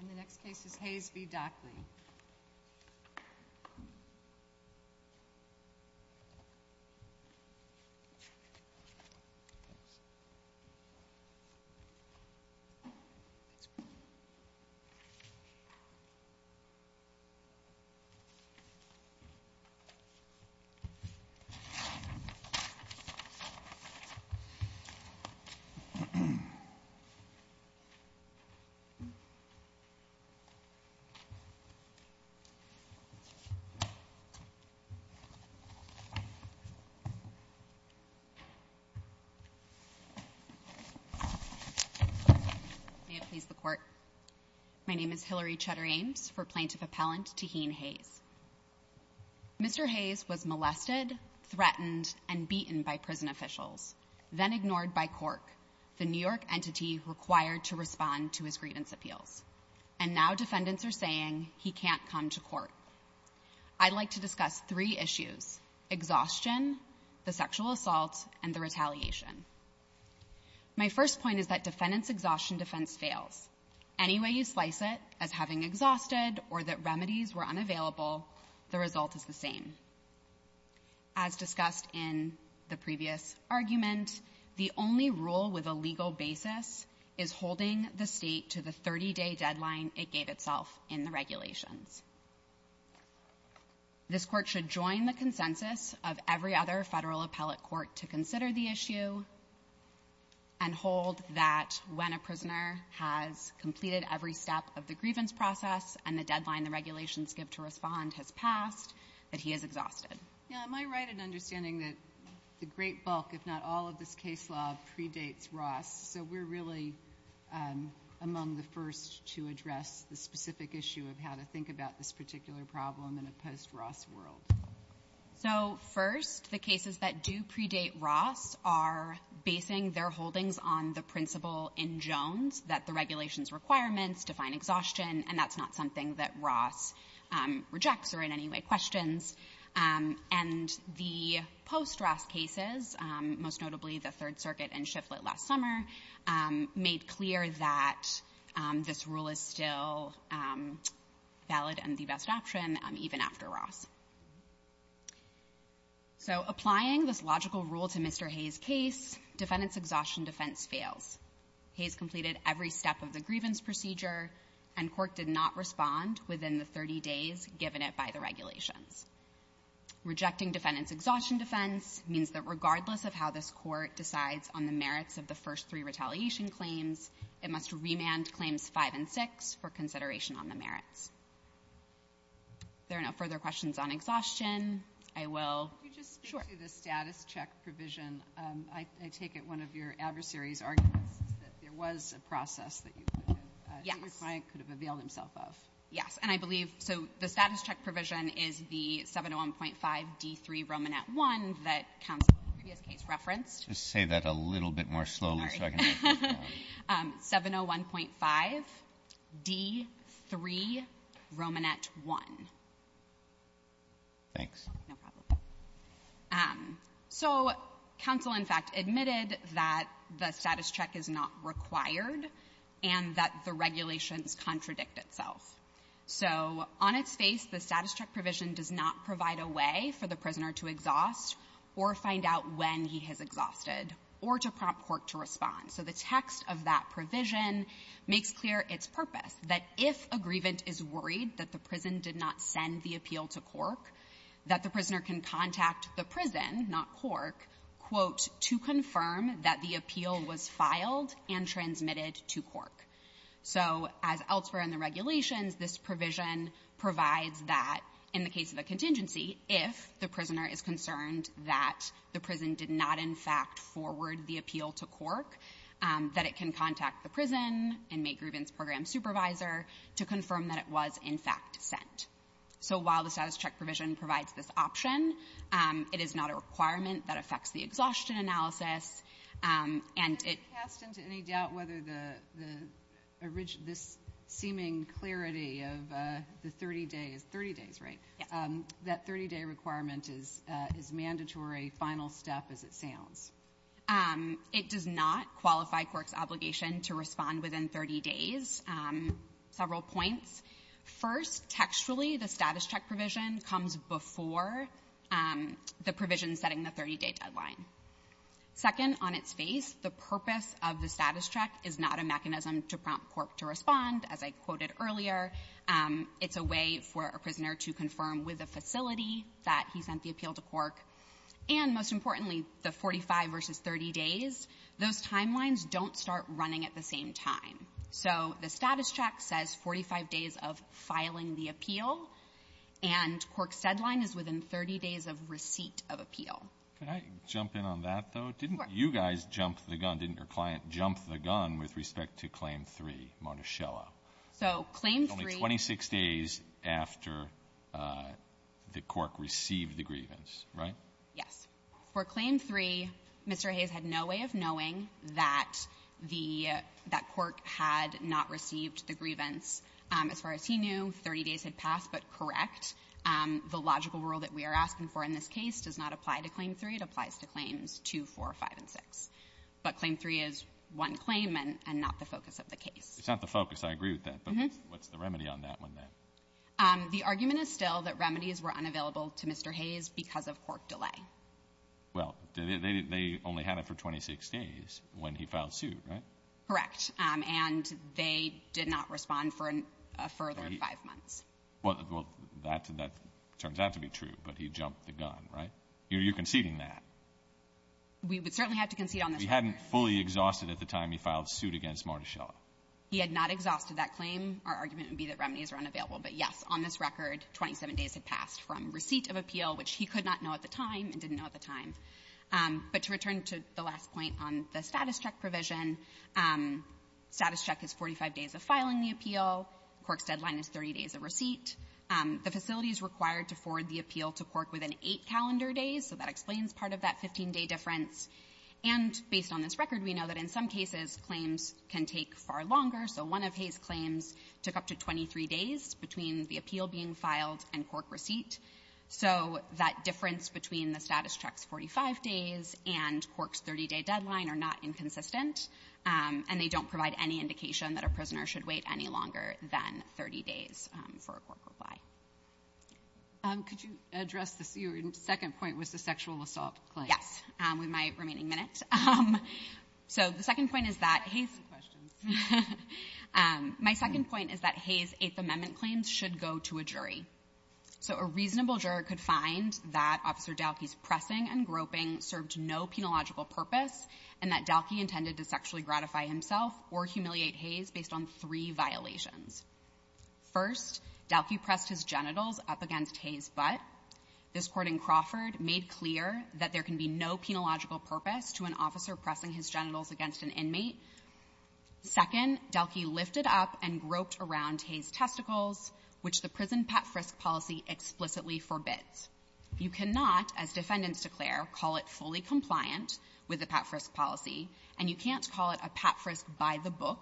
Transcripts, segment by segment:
And the next case is Hayes v.Dahkle. May it please the Court, my name is Hillary Cheddar Ames for Plaintiff Appellant Taheen Hayes. Mr. Hayes was molested, threatened, and beaten by prison officials, then ignored by Cork, the New York entity required to respond to his grievance appeals. And now defendants are saying he can't come to court. I'd like to discuss three issues, exhaustion, the sexual assault, and the retaliation. My first point is that defendant's exhaustion defense fails. Any way you slice it, as having exhausted or that remedies were unavailable, the result is the same. As discussed in the previous argument, the only rule with a legal basis is holding the state to the 30-day deadline it gave itself in the regulations. This court should join the consensus of every other federal appellate court to consider the issue and hold that when a prisoner has completed every step of the grievance process and the deadline the regulations give to respond has passed, that he is exhausted. Yeah, am I right in understanding that the great bulk, if not all, of this case law predates Ross? So we're really among the first to address the specific issue of how to think about this particular problem in a post-Ross world. So first, the cases that do predate Ross are basing their holdings on the principle in Jones that the regulations requirements define exhaustion, and that's not something that Ross rejects or in any way questions. And the post-Ross cases, most notably the Third Circuit and Shiflett last summer, made clear that this rule is still valid and the best option even after Ross. So applying this logical rule to Mr. Hayes' case, defendant's exhaustion defense fails. Hayes completed every step of the grievance procedure and court did not respond within the 30 days given it by the regulations. Rejecting defendant's exhaustion defense means that regardless of how this court decides on the merits of the first three retaliation claims, it must remand claims five and six for consideration on the merits. If there are no further questions on exhaustion, I will – Could you just speak to the status check provision? I take it one of your adversaries' arguments is that there was a process that your client could have availed himself of. Yes. And I believe – so the status check provision is the 701.5D3 Romanet 1 that counsel in the previous case referenced. Sorry. 701.5D3 Romanet 1. Thanks. No problem. So counsel, in fact, admitted that the status check is not required and that the regulations contradict itself. So on its face, the status check provision does not provide a way for the prisoner to exhaust or find out when he has exhausted or to prompt court to respond. So the text of that provision makes clear its purpose, that if a grievant is worried that the prison did not send the appeal to Cork, that the prisoner can contact the prison, not Cork, quote, to confirm that the appeal was filed and transmitted to Cork. So as elsewhere in the regulations, this provision provides that in the case of a contingency, if the prisoner is concerned that the prison did not, in fact, forward the appeal to Cork, that it can contact the prison and make grievance program supervisor to confirm that it was, in fact, sent. So while the status check provision provides this option, it is not a requirement that affects the exhaustion analysis, and it – Did it cast into any doubt whether the – this seeming clarity of the 30 days – 30 days, right? Yes. That 30-day requirement is mandatory, final step as it sounds? It does not qualify Cork's obligation to respond within 30 days. Several points. First, textually, the status check provision comes before the provision setting the 30-day deadline. Second, on its face, the purpose of the status check is not a mechanism to prompt Cork to respond, as I quoted earlier. It's a way for a prisoner to confirm with a facility that he sent the appeal to Cork. And most importantly, the 45 versus 30 days, those timelines don't start running at the same time. So the status check says 45 days of filing the appeal, and Cork's deadline is within 30 days of receipt of appeal. Can I jump in on that, though? Didn't you guys jump the gun? Didn't your client jump the gun with respect to Claim 3, Monticello? So Claim 3 – Only 26 days after the Cork received the grievance, right? Yes. For Claim 3, Mr. Hayes had no way of knowing that the – that Cork had not received the grievance. As far as he knew, 30 days had passed, but correct. The logical rule that we are asking for in this case does not apply to Claim 3. It applies to Claims 2, 4, 5, and 6. But Claim 3 is one claim and not the focus of the case. It's not the focus. I agree with that. But what's the remedy on that one, then? The argument is still that remedies were unavailable to Mr. Hayes because of Cork delay. Well, they only had it for 26 days when he filed suit, right? Correct. And they did not respond for a further five months. Well, that turns out to be true, but he jumped the gun, right? You're conceding that. We would certainly have to concede on this record. He hadn't fully exhausted at the time he filed suit against Monticello. He had not exhausted that claim. Our argument would be that remedies were unavailable. But, yes, on this record, 27 days had passed from receipt of appeal, which he could not know at the time and didn't know at the time. But to return to the last point on the status check provision, status check is 45 days of filing the appeal. Cork's deadline is 30 days of receipt. The facility is required to forward the appeal to Cork within eight calendar days, so that explains part of that 15-day difference. And based on this record, we know that in some cases, claims can take far longer. So one of Hayes' claims took up to 23 days between the appeal being filed and Cork receipt. So that difference between the status check's 45 days and Cork's 30-day deadline are not inconsistent, and they don't provide any indication that a prisoner should wait any longer than 30 days for a Cork reply. Could you address the second point, was the sexual assault claim? Yes, with my remaining minute. So the second point is that Hayes' question. My second point is that Hayes' Eighth Amendment claims should go to a jury. So a reasonable juror could find that Officer Dahlke's pressing and groping served no penological purpose and that Dahlke intended to sexually gratify himself or humiliate Hayes based on three violations. First, Dahlke pressed his genitals up against Hayes' butt. This court in Crawford made clear that there can be no penological purpose to an officer pressing his genitals against an inmate. Second, Dahlke lifted up and groped around Hayes' testicles, which the prison pap frisk policy explicitly forbids. You cannot, as defendants declare, call it fully compliant with the pap frisk policy, and you can't call it a pap frisk by the book.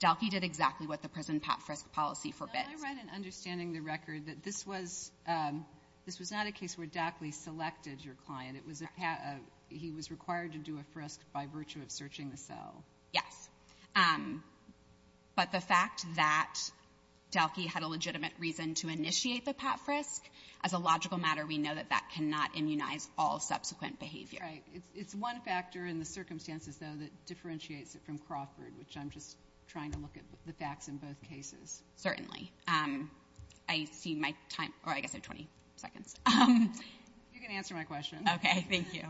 Dahlke did exactly what the prison pap frisk policy forbids. Can I write an understanding in the record that this was not a case where Dahlke selected your client? He was required to do a frisk by virtue of searching the cell? Yes. But the fact that Dahlke had a legitimate reason to initiate the pap frisk, as a logical matter, we know that that cannot immunize all subsequent behavior. Right. It's one factor in the circumstances, though, that differentiates it from Crawford, which I'm just trying to look at the facts in both cases. Certainly. I see my time or I guess I have 20 seconds. You can answer my question. Okay. Thank you.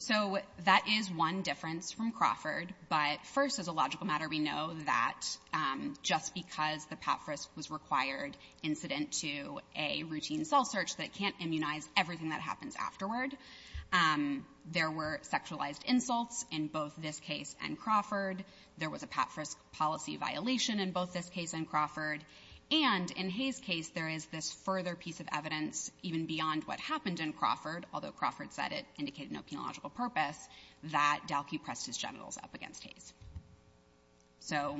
So that is one difference from Crawford. But first, as a logical matter, we know that just because the pap frisk was required incident to a routine cell search, that it can't immunize everything that happens afterward. There were sexualized insults in both this case and Crawford. There was a pap frisk policy violation in both this case and Crawford. And in Hayes' case, there is this further piece of evidence, even beyond what happened in Crawford, although Crawford said it indicated no penological purpose, that Dahlke pressed his genitals up against Hayes. So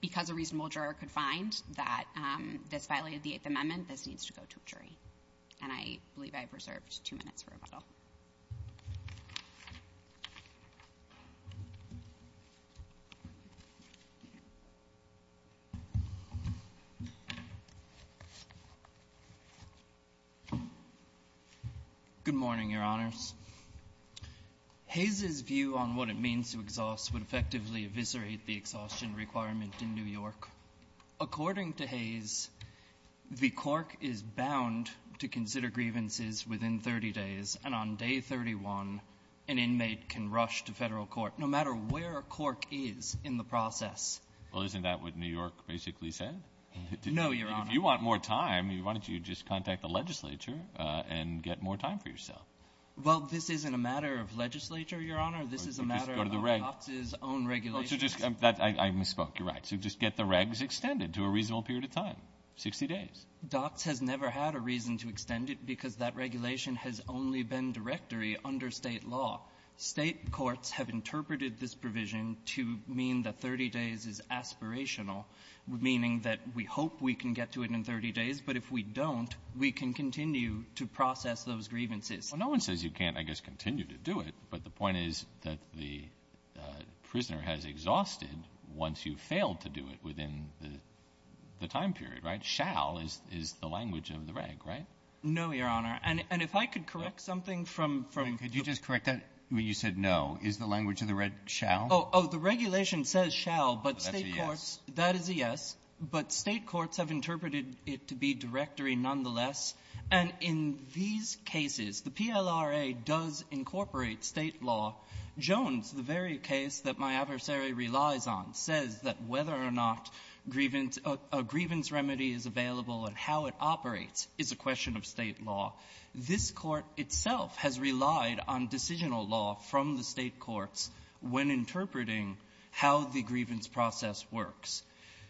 because a reasonable juror could find that this violated the Eighth Amendment, this needs to go to a jury. And I believe I have reserved two minutes for rebuttal. Good morning, Your Honors. Hayes' view on what it means to exhaust would effectively eviscerate the exhaustion requirement in New York. According to Hayes, the court is bound to consider grievances within 30 days and on day 31, an inmate can rush to federal court, no matter where a court is in the process. Well, isn't that what New York basically said? No, Your Honor. If you want more time, why don't you just contact the legislature and get more time for yourself? Well, this isn't a matter of legislature, Your Honor. This is a matter of DOCS's own regulations. I misspoke. You're right. So just get the regs extended to a reasonable period of time, 60 days. DOCS has never had a reason to extend it because that regulation has only been directory under State law. State courts have interpreted this provision to mean that 30 days is aspirational, meaning that we hope we can get to it in 30 days. But if we don't, we can continue to process those grievances. Well, no one says you can't, I guess, continue to do it. But the point is that the prisoner has exhausted once you've failed to do it within the time period, right? So shall is the language of the reg, right? No, Your Honor. And if I could correct something from the ---- Could you just correct that? When you said no, is the language of the reg shall? Oh, the regulation says shall, but State courts ---- That's a yes. That is a yes. But State courts have interpreted it to be directory nonetheless. And in these cases, the PLRA does incorporate State law. Jones, the very case that my adversary relies on, says that whether or not a grievance remedy is available and how it operates is a question of State law. This Court itself has relied on decisional law from the State courts when interpreting how the grievance process works.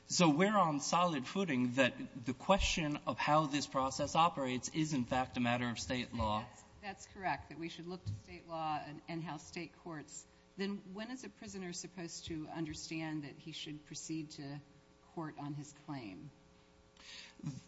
So we're on solid footing that the question of how this process operates is, in fact, a matter of State law. That's correct, that we should look to State law and how State courts. Then when is a prisoner supposed to understand that he should proceed to court on his claim?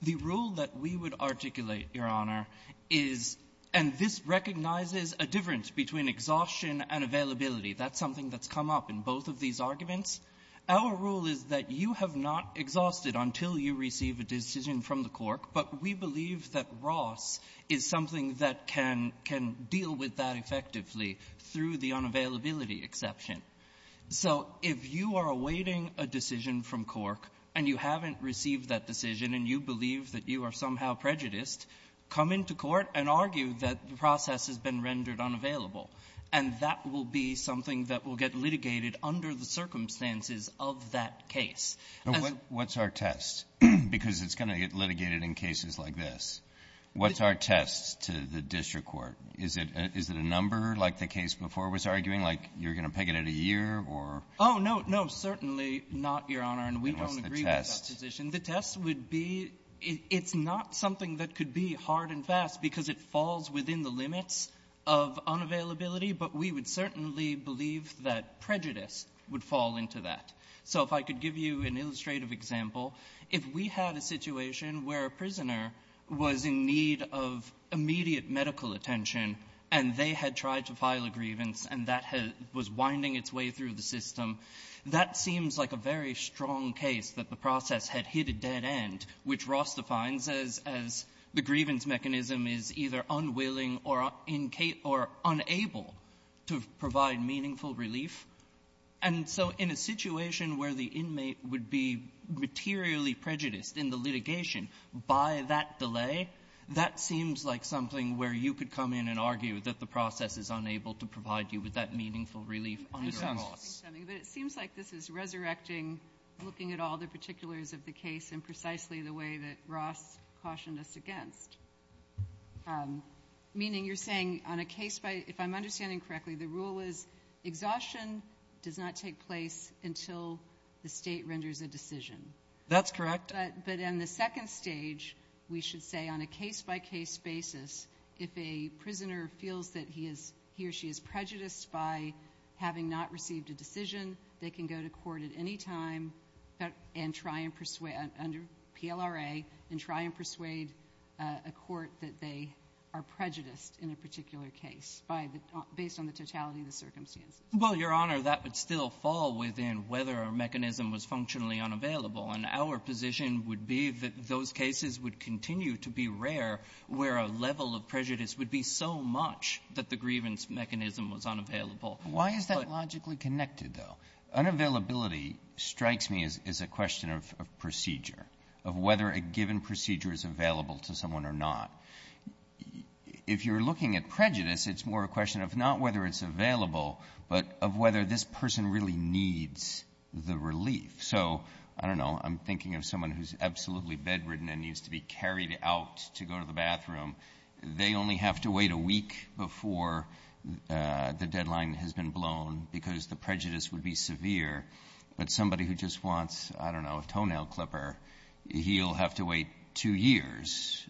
The rule that we would articulate, Your Honor, is ---- and this recognizes a difference between exhaustion and availability. That's something that's come up in both of these arguments. Our rule is that you have not exhausted until you receive a decision from the court, but we believe that Ross is something that can deal with that effectively through the unavailability exception. So if you are awaiting a decision from Cork and you haven't received that decision and you believe that you are somehow prejudiced, come into court and argue that the process has been rendered unavailable. And that will be something that will get litigated under the circumstances of that case. And what's our test? Because it's going to get litigated in cases like this. What's our test to the district court? Is it a number like the case before was arguing? Like you're going to peg it at a year or ---- Oh, no, no, certainly not, Your Honor. And we don't agree with that position. The test would be it's not something that could be hard and fast because it falls within the limits of unavailability, but we would certainly believe that prejudice would fall into that. So if I could give you an illustrative example, if we had a situation where a prisoner was in need of immediate medical attention and they had tried to file a grievance and that was winding its way through the system, that seems like a very strong case that the process had hit a dead end, which Ross defines as the grievance mechanism is either unwilling or incate or unable to provide meaningful relief. And so in a situation where the inmate would be materially prejudiced in the litigation by that delay, that seems like something where you could come in and argue that the meaningful relief under Ross. But it seems like this is resurrecting looking at all the particulars of the case and precisely the way that Ross cautioned us against, meaning you're saying on a case by ---- if I'm understanding correctly, the rule is exhaustion does not take place until the State renders a decision. That's correct. But in the second stage, we should say on a case-by-case basis, if a prisoner feels that he or she is prejudiced by having not received a decision, they can go to court at any time and try and persuade under PLRA and try and persuade a court that they are prejudiced in a particular case based on the totality of the circumstances. Well, Your Honor, that would still fall within whether a mechanism was functionally unavailable. And our position would be that those cases would continue to be rare where a level of prejudice would be so much that the grievance mechanism was unavailable. Why is that logically connected, though? Unavailability strikes me as a question of procedure, of whether a given procedure is available to someone or not. If you're looking at prejudice, it's more a question of not whether it's available, but of whether this person really needs the relief. So I don't know. I'm thinking of someone who's absolutely bedridden and needs to be carried out to go to the bathroom. They only have to wait a week before the deadline has been blown because the prejudice would be severe. But somebody who just wants, I don't know, a toenail clipper, he'll have to wait two years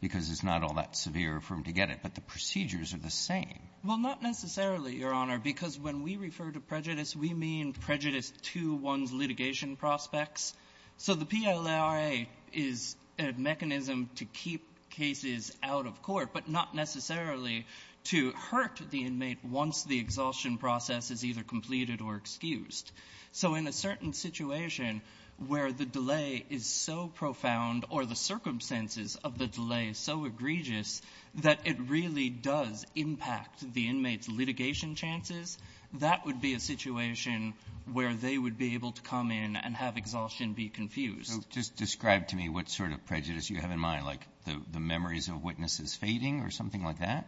because it's not all that severe for him to get it. But the procedures are the same. Well, not necessarily, Your Honor, because when we refer to prejudice, we mean prejudice to one's litigation prospects. So the PLRA is a mechanism to keep cases out of court, but not necessarily to hurt the inmate once the exhaustion process is either completed or excused. So in a certain situation where the delay is so profound or the circumstances of the delay is so egregious that it really does impact the inmate's litigation chances, that would be a situation where they would be able to come in and have the exhaustion be confused. So just describe to me what sort of prejudice you have in mind, like the memories of witnesses fading or something like that?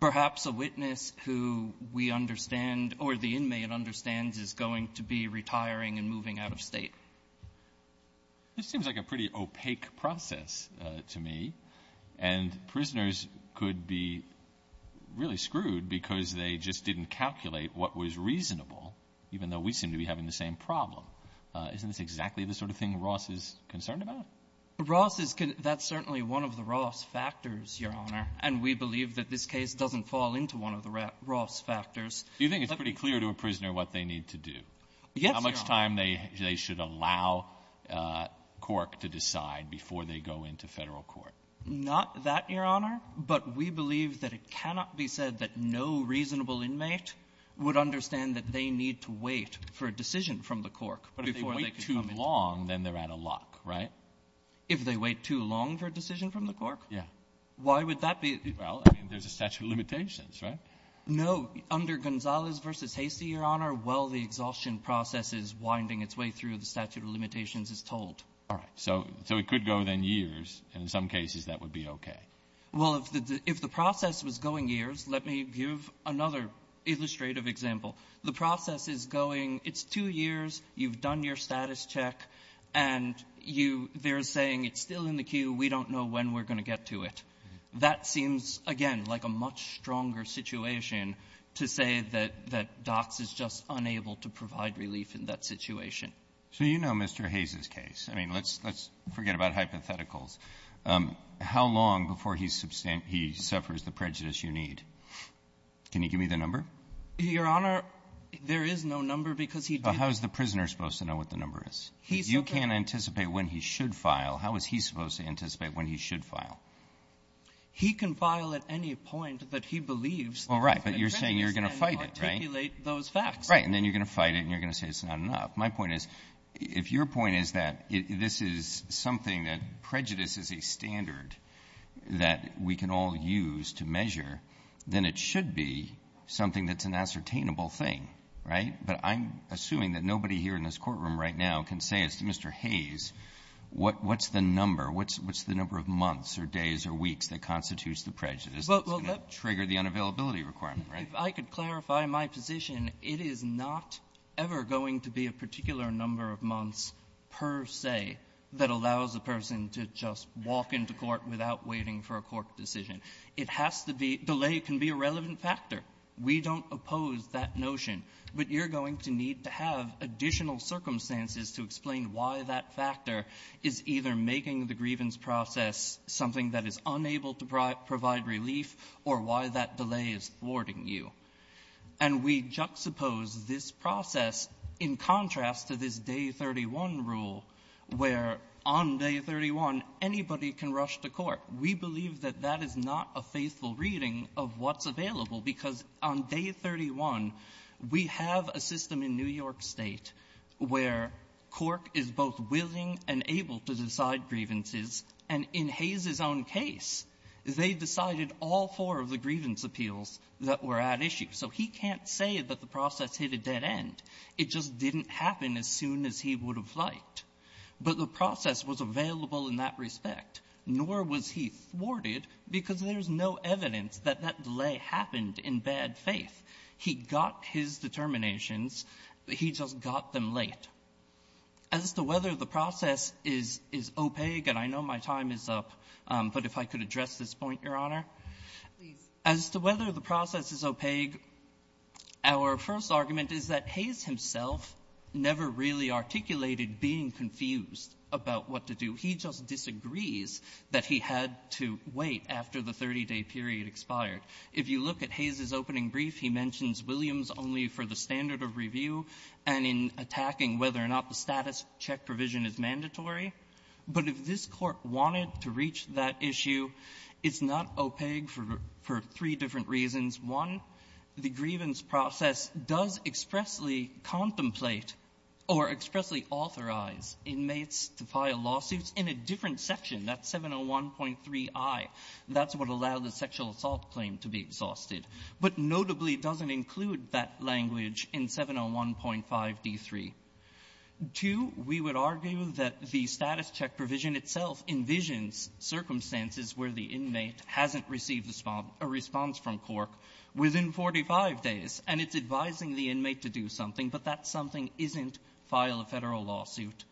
Perhaps a witness who we understand or the inmate understands is going to be retiring and moving out of State. This seems like a pretty opaque process to me. And prisoners could be really screwed because they just didn't calculate what was reasonable, even though we seem to be having the same problem. Isn't this exactly the sort of thing Ross is concerned about? Ross is concerned. That's certainly one of the Ross factors, Your Honor. And we believe that this case doesn't fall into one of the Ross factors. Do you think it's pretty clear to a prisoner what they need to do? Yes, Your Honor. How much time they should allow Cork to decide before they go into Federal court? Not that, Your Honor. But we believe that it cannot be said that no reasonable inmate would understand that they need to wait for a decision from the Cork before they can come in. But if they wait too long, then they're out of luck, right? If they wait too long for a decision from the Cork? Yeah. Why would that be? Well, I mean, there's a statute of limitations, right? No. Under Gonzalez v. Hastie, Your Honor, well, the exhaustion process is winding its way through the statute of limitations, it's told. All right. So it could go then years, and in some cases that would be okay. Well, if the process was going years, let me give another illustrative example. The process is going, it's two years, you've done your status check, and you they're saying it's still in the queue, we don't know when we're going to get to it. That seems, again, like a much stronger situation to say that DOX is just unable to provide relief in that situation. So you know Mr. Hayes' case. I mean, let's forget about hypotheticals. How long before he suffers the prejudice you need? Can you give me the number? Your Honor, there is no number because he didn't ---- Well, how is the prisoner supposed to know what the number is? He's supposed to ---- You can't anticipate when he should file. How is he supposed to anticipate when he should file? He can file at any point that he believes that the prejudice can articulate those facts. All right. But you're saying you're going to fight it, right? Right. And then you're going to fight it and you're going to say it's not enough. My point is, if your point is that this is something that prejudice is a standard that we can all use to measure, then it should be something that's an ascertainable thing, right? But I'm assuming that nobody here in this courtroom right now can say as to Mr. Hayes, what's the number? What's the number of months or days or weeks that constitutes the prejudice that's going to trigger the unavailability requirement, right? If I could clarify my position, it is not ever going to be a particular number of months per se that allows a person to just walk into court without waiting for a court decision. It has to be ---- delay can be a relevant factor. We don't oppose that notion. But you're going to need to have additional circumstances to explain why that factor is either making the grievance process something that is unable to provide relief or why that delay is thwarting you. And we juxtapose this process in contrast to this Day 31 rule, where on Day 31, anybody can rush to court. We believe that that is not a faithful reading of what's available, because on Day 31, we have a system in New York State where court is both willing and able to decide grievances, and in Hayes' own case, they decided all four of the grievance appeals that were at issue. So he can't say that the process hit a dead end. It just didn't happen as soon as he would have liked. But the process was available in that respect, nor was he thwarted, because there's no evidence that that delay happened in bad faith. He got his determinations. He just got them late. As to whether the process is opaque, and I know my time is up, but if I could address this point, Your Honor. As to whether the process is opaque, our first argument is that Hayes himself never really articulated being confused about what to do. He just disagrees that he had to wait after the 30-day period expired. If you look at Hayes' opening brief, he mentions Williams only for the standard of review and in attacking whether or not the status check provision is mandatory. But if this Court wanted to reach that issue, it's not opaque for three different reasons. One, the grievance process does expressly contemplate or expressly authorize inmates to file lawsuits in a different section. That's 701.3i. That's what allowed the sexual assault claim to be exhausted. But notably, it doesn't include that language in 701.5d3. Two, we would argue that the status check provision itself envisions circumstances where the inmate hasn't received a response from Cork within 45 days, and it's advising the inmate to do something, but that something isn't file a Federal lawsuit.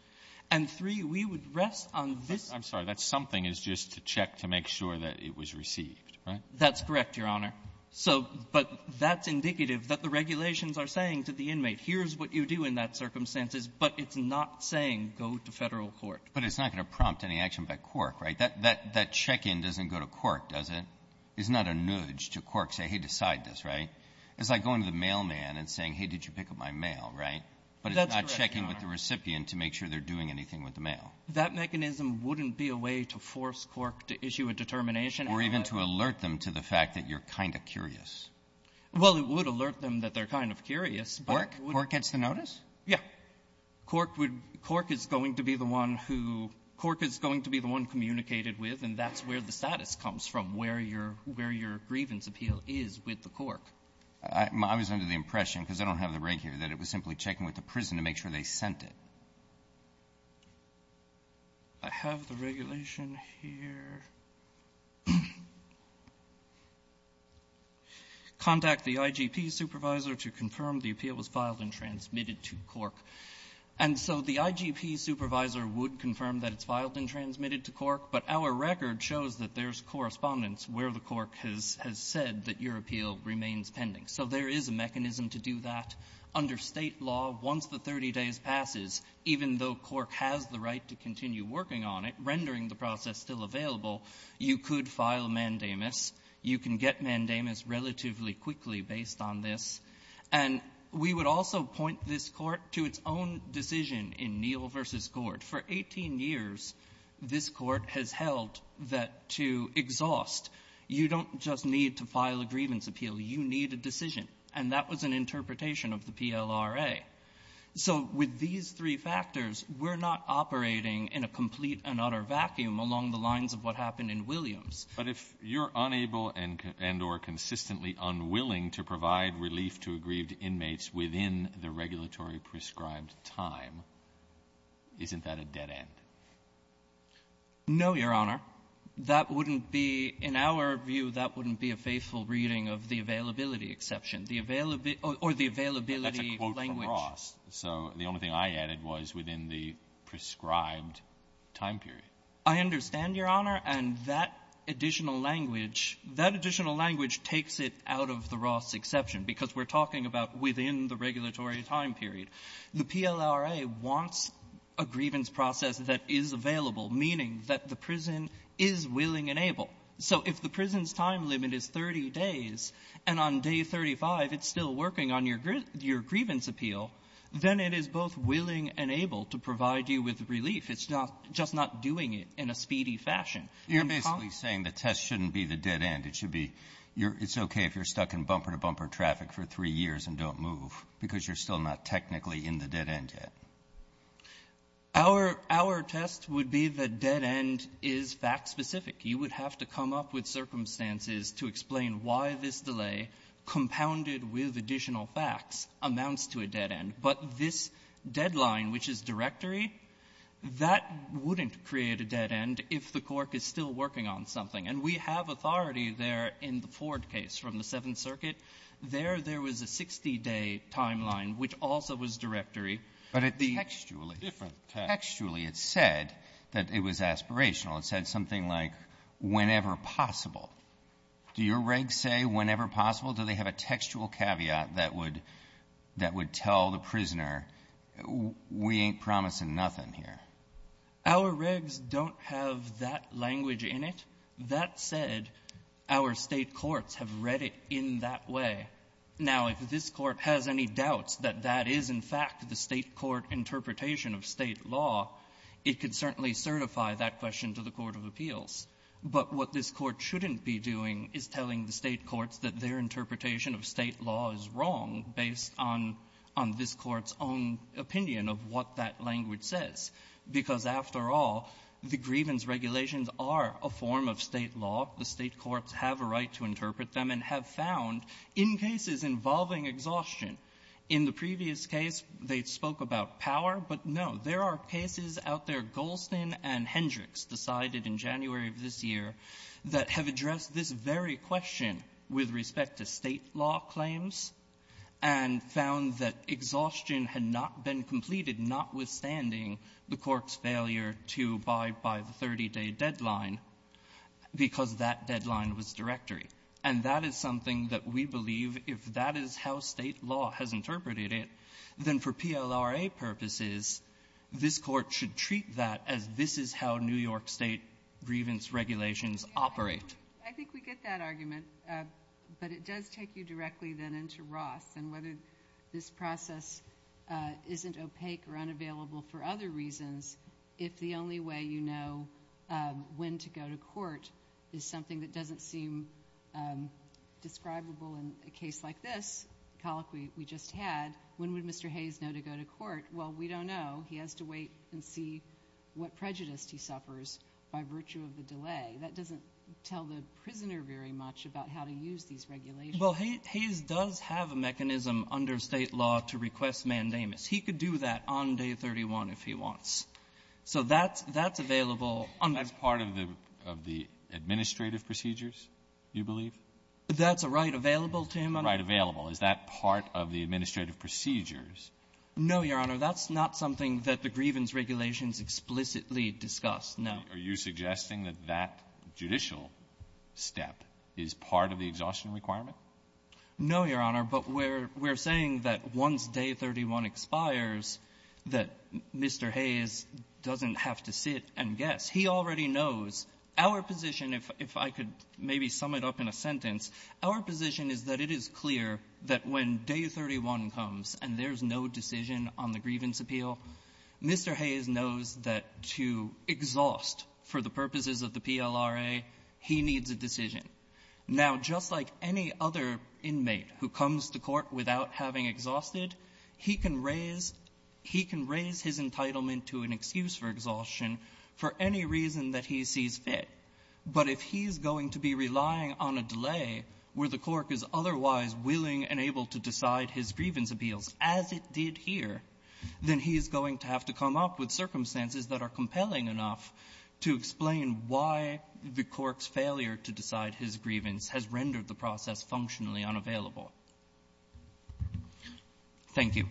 And three, we would rest on this ---- Alitono, I'm sorry. That something is just to check to make sure that it was received, right? That's correct, Your Honor. So but that's indicative that the regulations are saying to the inmate, here's what you do in that circumstances, but it's not saying go to Federal court. But it's not going to prompt any action by Cork, right? That check-in doesn't go to Cork, does it? It's not a nudge to Cork, say, hey, decide this, right? It's like going to the mailman and saying, hey, did you pick up my mail, right? But it's not checking with the recipient to make sure they're doing anything with the mail. That mechanism wouldn't be a way to force Cork to issue a determination out of that. Or even to alert them to the fact that you're kind of curious. Well, it would alert them that they're kind of curious, but it wouldn't. Cork gets the notice? Yeah. Cork would be the one who — Cork is going to be the one communicated with, and that's where the status comes from, where your grievance appeal is with the Cork. I was under the impression, because I don't have the break here, that it was simply checking with the prison to make sure they sent it. I have the regulation here. Contact the IGP supervisor to confirm the appeal was filed and transmitted to Cork. And so the IGP supervisor would confirm that it's filed and transmitted to Cork. But our record shows that there's correspondence where the Cork has said that your appeal remains pending. So there is a mechanism to do that. Under state law, once the 30 days passes, even though Cork has the right to continue working on it, rendering the process still available, you could file mandamus. You can get mandamus relatively quickly based on this. And we would also point this Court to its own decision in Neal v. Gord. For 18 years, this Court has held that to exhaust, you don't just need to file a grievance appeal. You need a decision. And that was an interpretation of the PLRA. So with these three factors, we're not operating in a complete and utter vacuum along the lines of what happened in Williams. Alitoson But if you're unable and or consistently unwilling to provide relief to aggrieved inmates within the regulatory prescribed time, isn't that a dead end? No, Your Honor. That wouldn't be, in our view, that wouldn't be a faithful reading of the availability exception. The availability or the availability language That's a quote from Ross. So the only thing I added was within the prescribed time period. I understand, Your Honor. And that additional language, that additional language takes it out of the Ross exception, because we're talking about within the regulatory time period. The PLRA wants a grievance process that is available, meaning that the prison is willing and able. So if the prison's time limit is 30 days, and on day 35, it's still working on your grievance appeal, then it is both willing and able to provide you with relief. It's not just not doing it in a speedy fashion. You're basically saying the test shouldn't be the dead end. It should be you're It's okay if you're stuck in bumper-to-bumper traffic for three years and don't move, because you're still not technically in the dead end yet. Our test would be the dead end is fact-specific. You would have to come up with circumstances to explain why this delay, compounded with additional facts, amounts to a dead end. But this deadline, which is directory, that wouldn't create a dead end if the court is still working on something. And we have authority there in the Ford case from the Seventh Circuit. There, there was a 60-day timeline, which also was directory. But it's textually different. Textually, it said that it was aspirational. It said something like, whenever possible. Do your regs say, whenever possible? Do they have a textual caveat that would, that would tell the prisoner, we ain't promising nothing here? Our regs don't have that language in it. That said, our State courts have read it in that way. Now, if this Court has any doubts that that is, in fact, the State court interpretation of State law, it could certainly certify that question to the court of appeals. But what this Court shouldn't be doing is telling the State courts that their interpretation of State law is wrong based on, on this Court's own opinion of what that language says. Because, after all, the grievance regulations are a form of State law. The State courts have a right to interpret them and have found, in cases involving exhaustion. In the previous case, they spoke about power. But, no, there are cases out there, Goldstein and Hendricks decided in January of this year, that have addressed this very question with respect to State law claims and found that exhaustion had not been completed, notwithstanding the court's failure to abide by the 30-day deadline, because that deadline was directory. And that is something that we believe, if that is how State law has interpreted it, then for PLRA purposes, this Court should treat that as this is how New York State grievance regulations operate. I think we get that argument. But it does take you directly, then, into Ross, and whether this process isn't opaque or unavailable for other reasons, if the only way you know when to go to court is something that doesn't seem describable in a case like this, the colloquy we just had, when would Mr. Hayes know to go to court? Well, we don't know. He has to wait and see what prejudice he suffers by virtue of the delay. That doesn't tell the prisoner very much about how to use these regulations. Well, Hayes does have a mechanism under State law to request mandamus. He could do that on Day 31 if he wants. So that's available under the State law. Administrative procedures, you believe? That's a right available to him, Your Honor. Right available. Is that part of the administrative procedures? No, Your Honor. That's not something that the grievance regulations explicitly discuss, no. Are you suggesting that that judicial step is part of the exhaustion requirement? No, Your Honor. But we're saying that once Day 31 expires, that Mr. Hayes doesn't have to sit and guess. He already knows our position, if I could maybe sum it up in a sentence, our position is that it is clear that when Day 31 comes and there's no decision on the grievance appeal, Mr. Hayes knows that to exhaust for the purposes of the PLRA, he needs a decision. Now, just like any other inmate who comes to court without having exhausted, he can raise his entitlement to an excuse for exhaustion for any reason that he sees fit. But if he's going to be relying on a delay where the court is otherwise willing and able to decide his grievance appeals as it did here, then he's going to have to come up with circumstances that are compelling enough to explain why the court's failure to decide his grievance has rendered the process functionally unavailable. Thank you.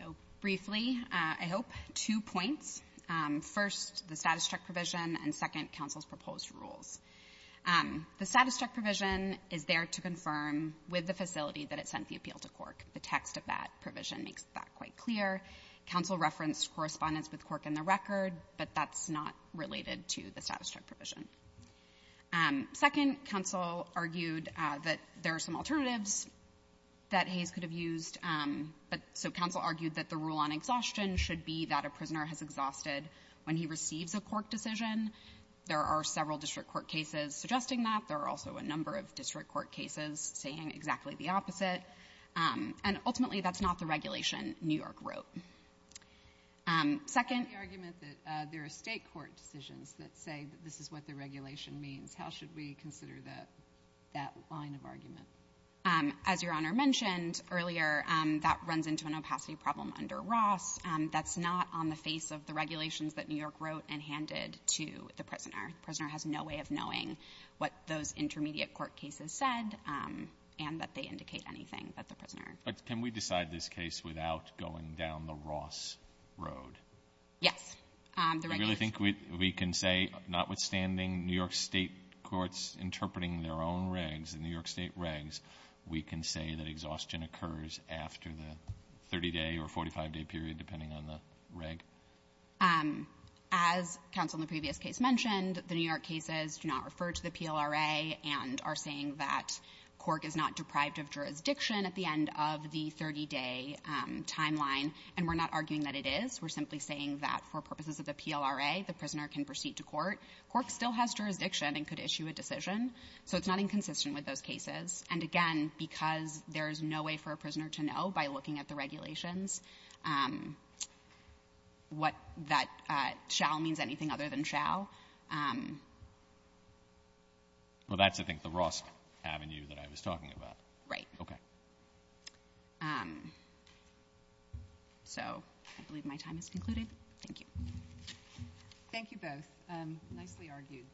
So briefly, I hope, two points. First, the status check provision and second, counsel's proposed rules. The status check provision is there to confirm with the facility that it sent the appeal to court. The text of that provision makes that quite clear. Counsel referenced correspondence with the court in the record, but that's not related to the status check provision. Second, counsel argued that there are some alternatives that Hayes could have used. So counsel argued that the rule on exhaustion should be that a prisoner has exhausted when he receives a court decision. There are several district court cases suggesting that. There are also a number of district court cases saying exactly the opposite. And ultimately, that's not the regulation New York wrote. Second. The argument that there are State court decisions that say that this is what the regulation means, how should we consider that line of argument? As Your Honor mentioned earlier, that runs into an opacity problem under Ross. That's not on the face of the regulations that New York wrote and handed to the prisoner. The prisoner has no way of knowing what those intermediate court cases said and that they indicate anything but the prisoner. But can we decide this case without going down the Ross road? Yes. The regulations. Do you really think we can say, notwithstanding New York State courts interpreting their own regs, the New York State regs, we can say that exhaustion occurs after the 30-day or 45-day period, depending on the reg? As counsel in the previous case mentioned, the New York cases do not refer to the PLRA and are saying that Cork is not deprived of jurisdiction at the end of the 30-day timeline, and we're not arguing that it is. We're simply saying that for purposes of the PLRA, the prisoner can proceed to court. Cork still has jurisdiction and could issue a decision. So it's not inconsistent with those cases. And again, because there is no way for a prisoner to know by looking at the regulations, what that shall means, anything other than shall. Well, that's, I think, the Ross avenue that I was talking about. Right. Okay. So I believe my time has concluded. Thank you. Thank you both. Nicely argued.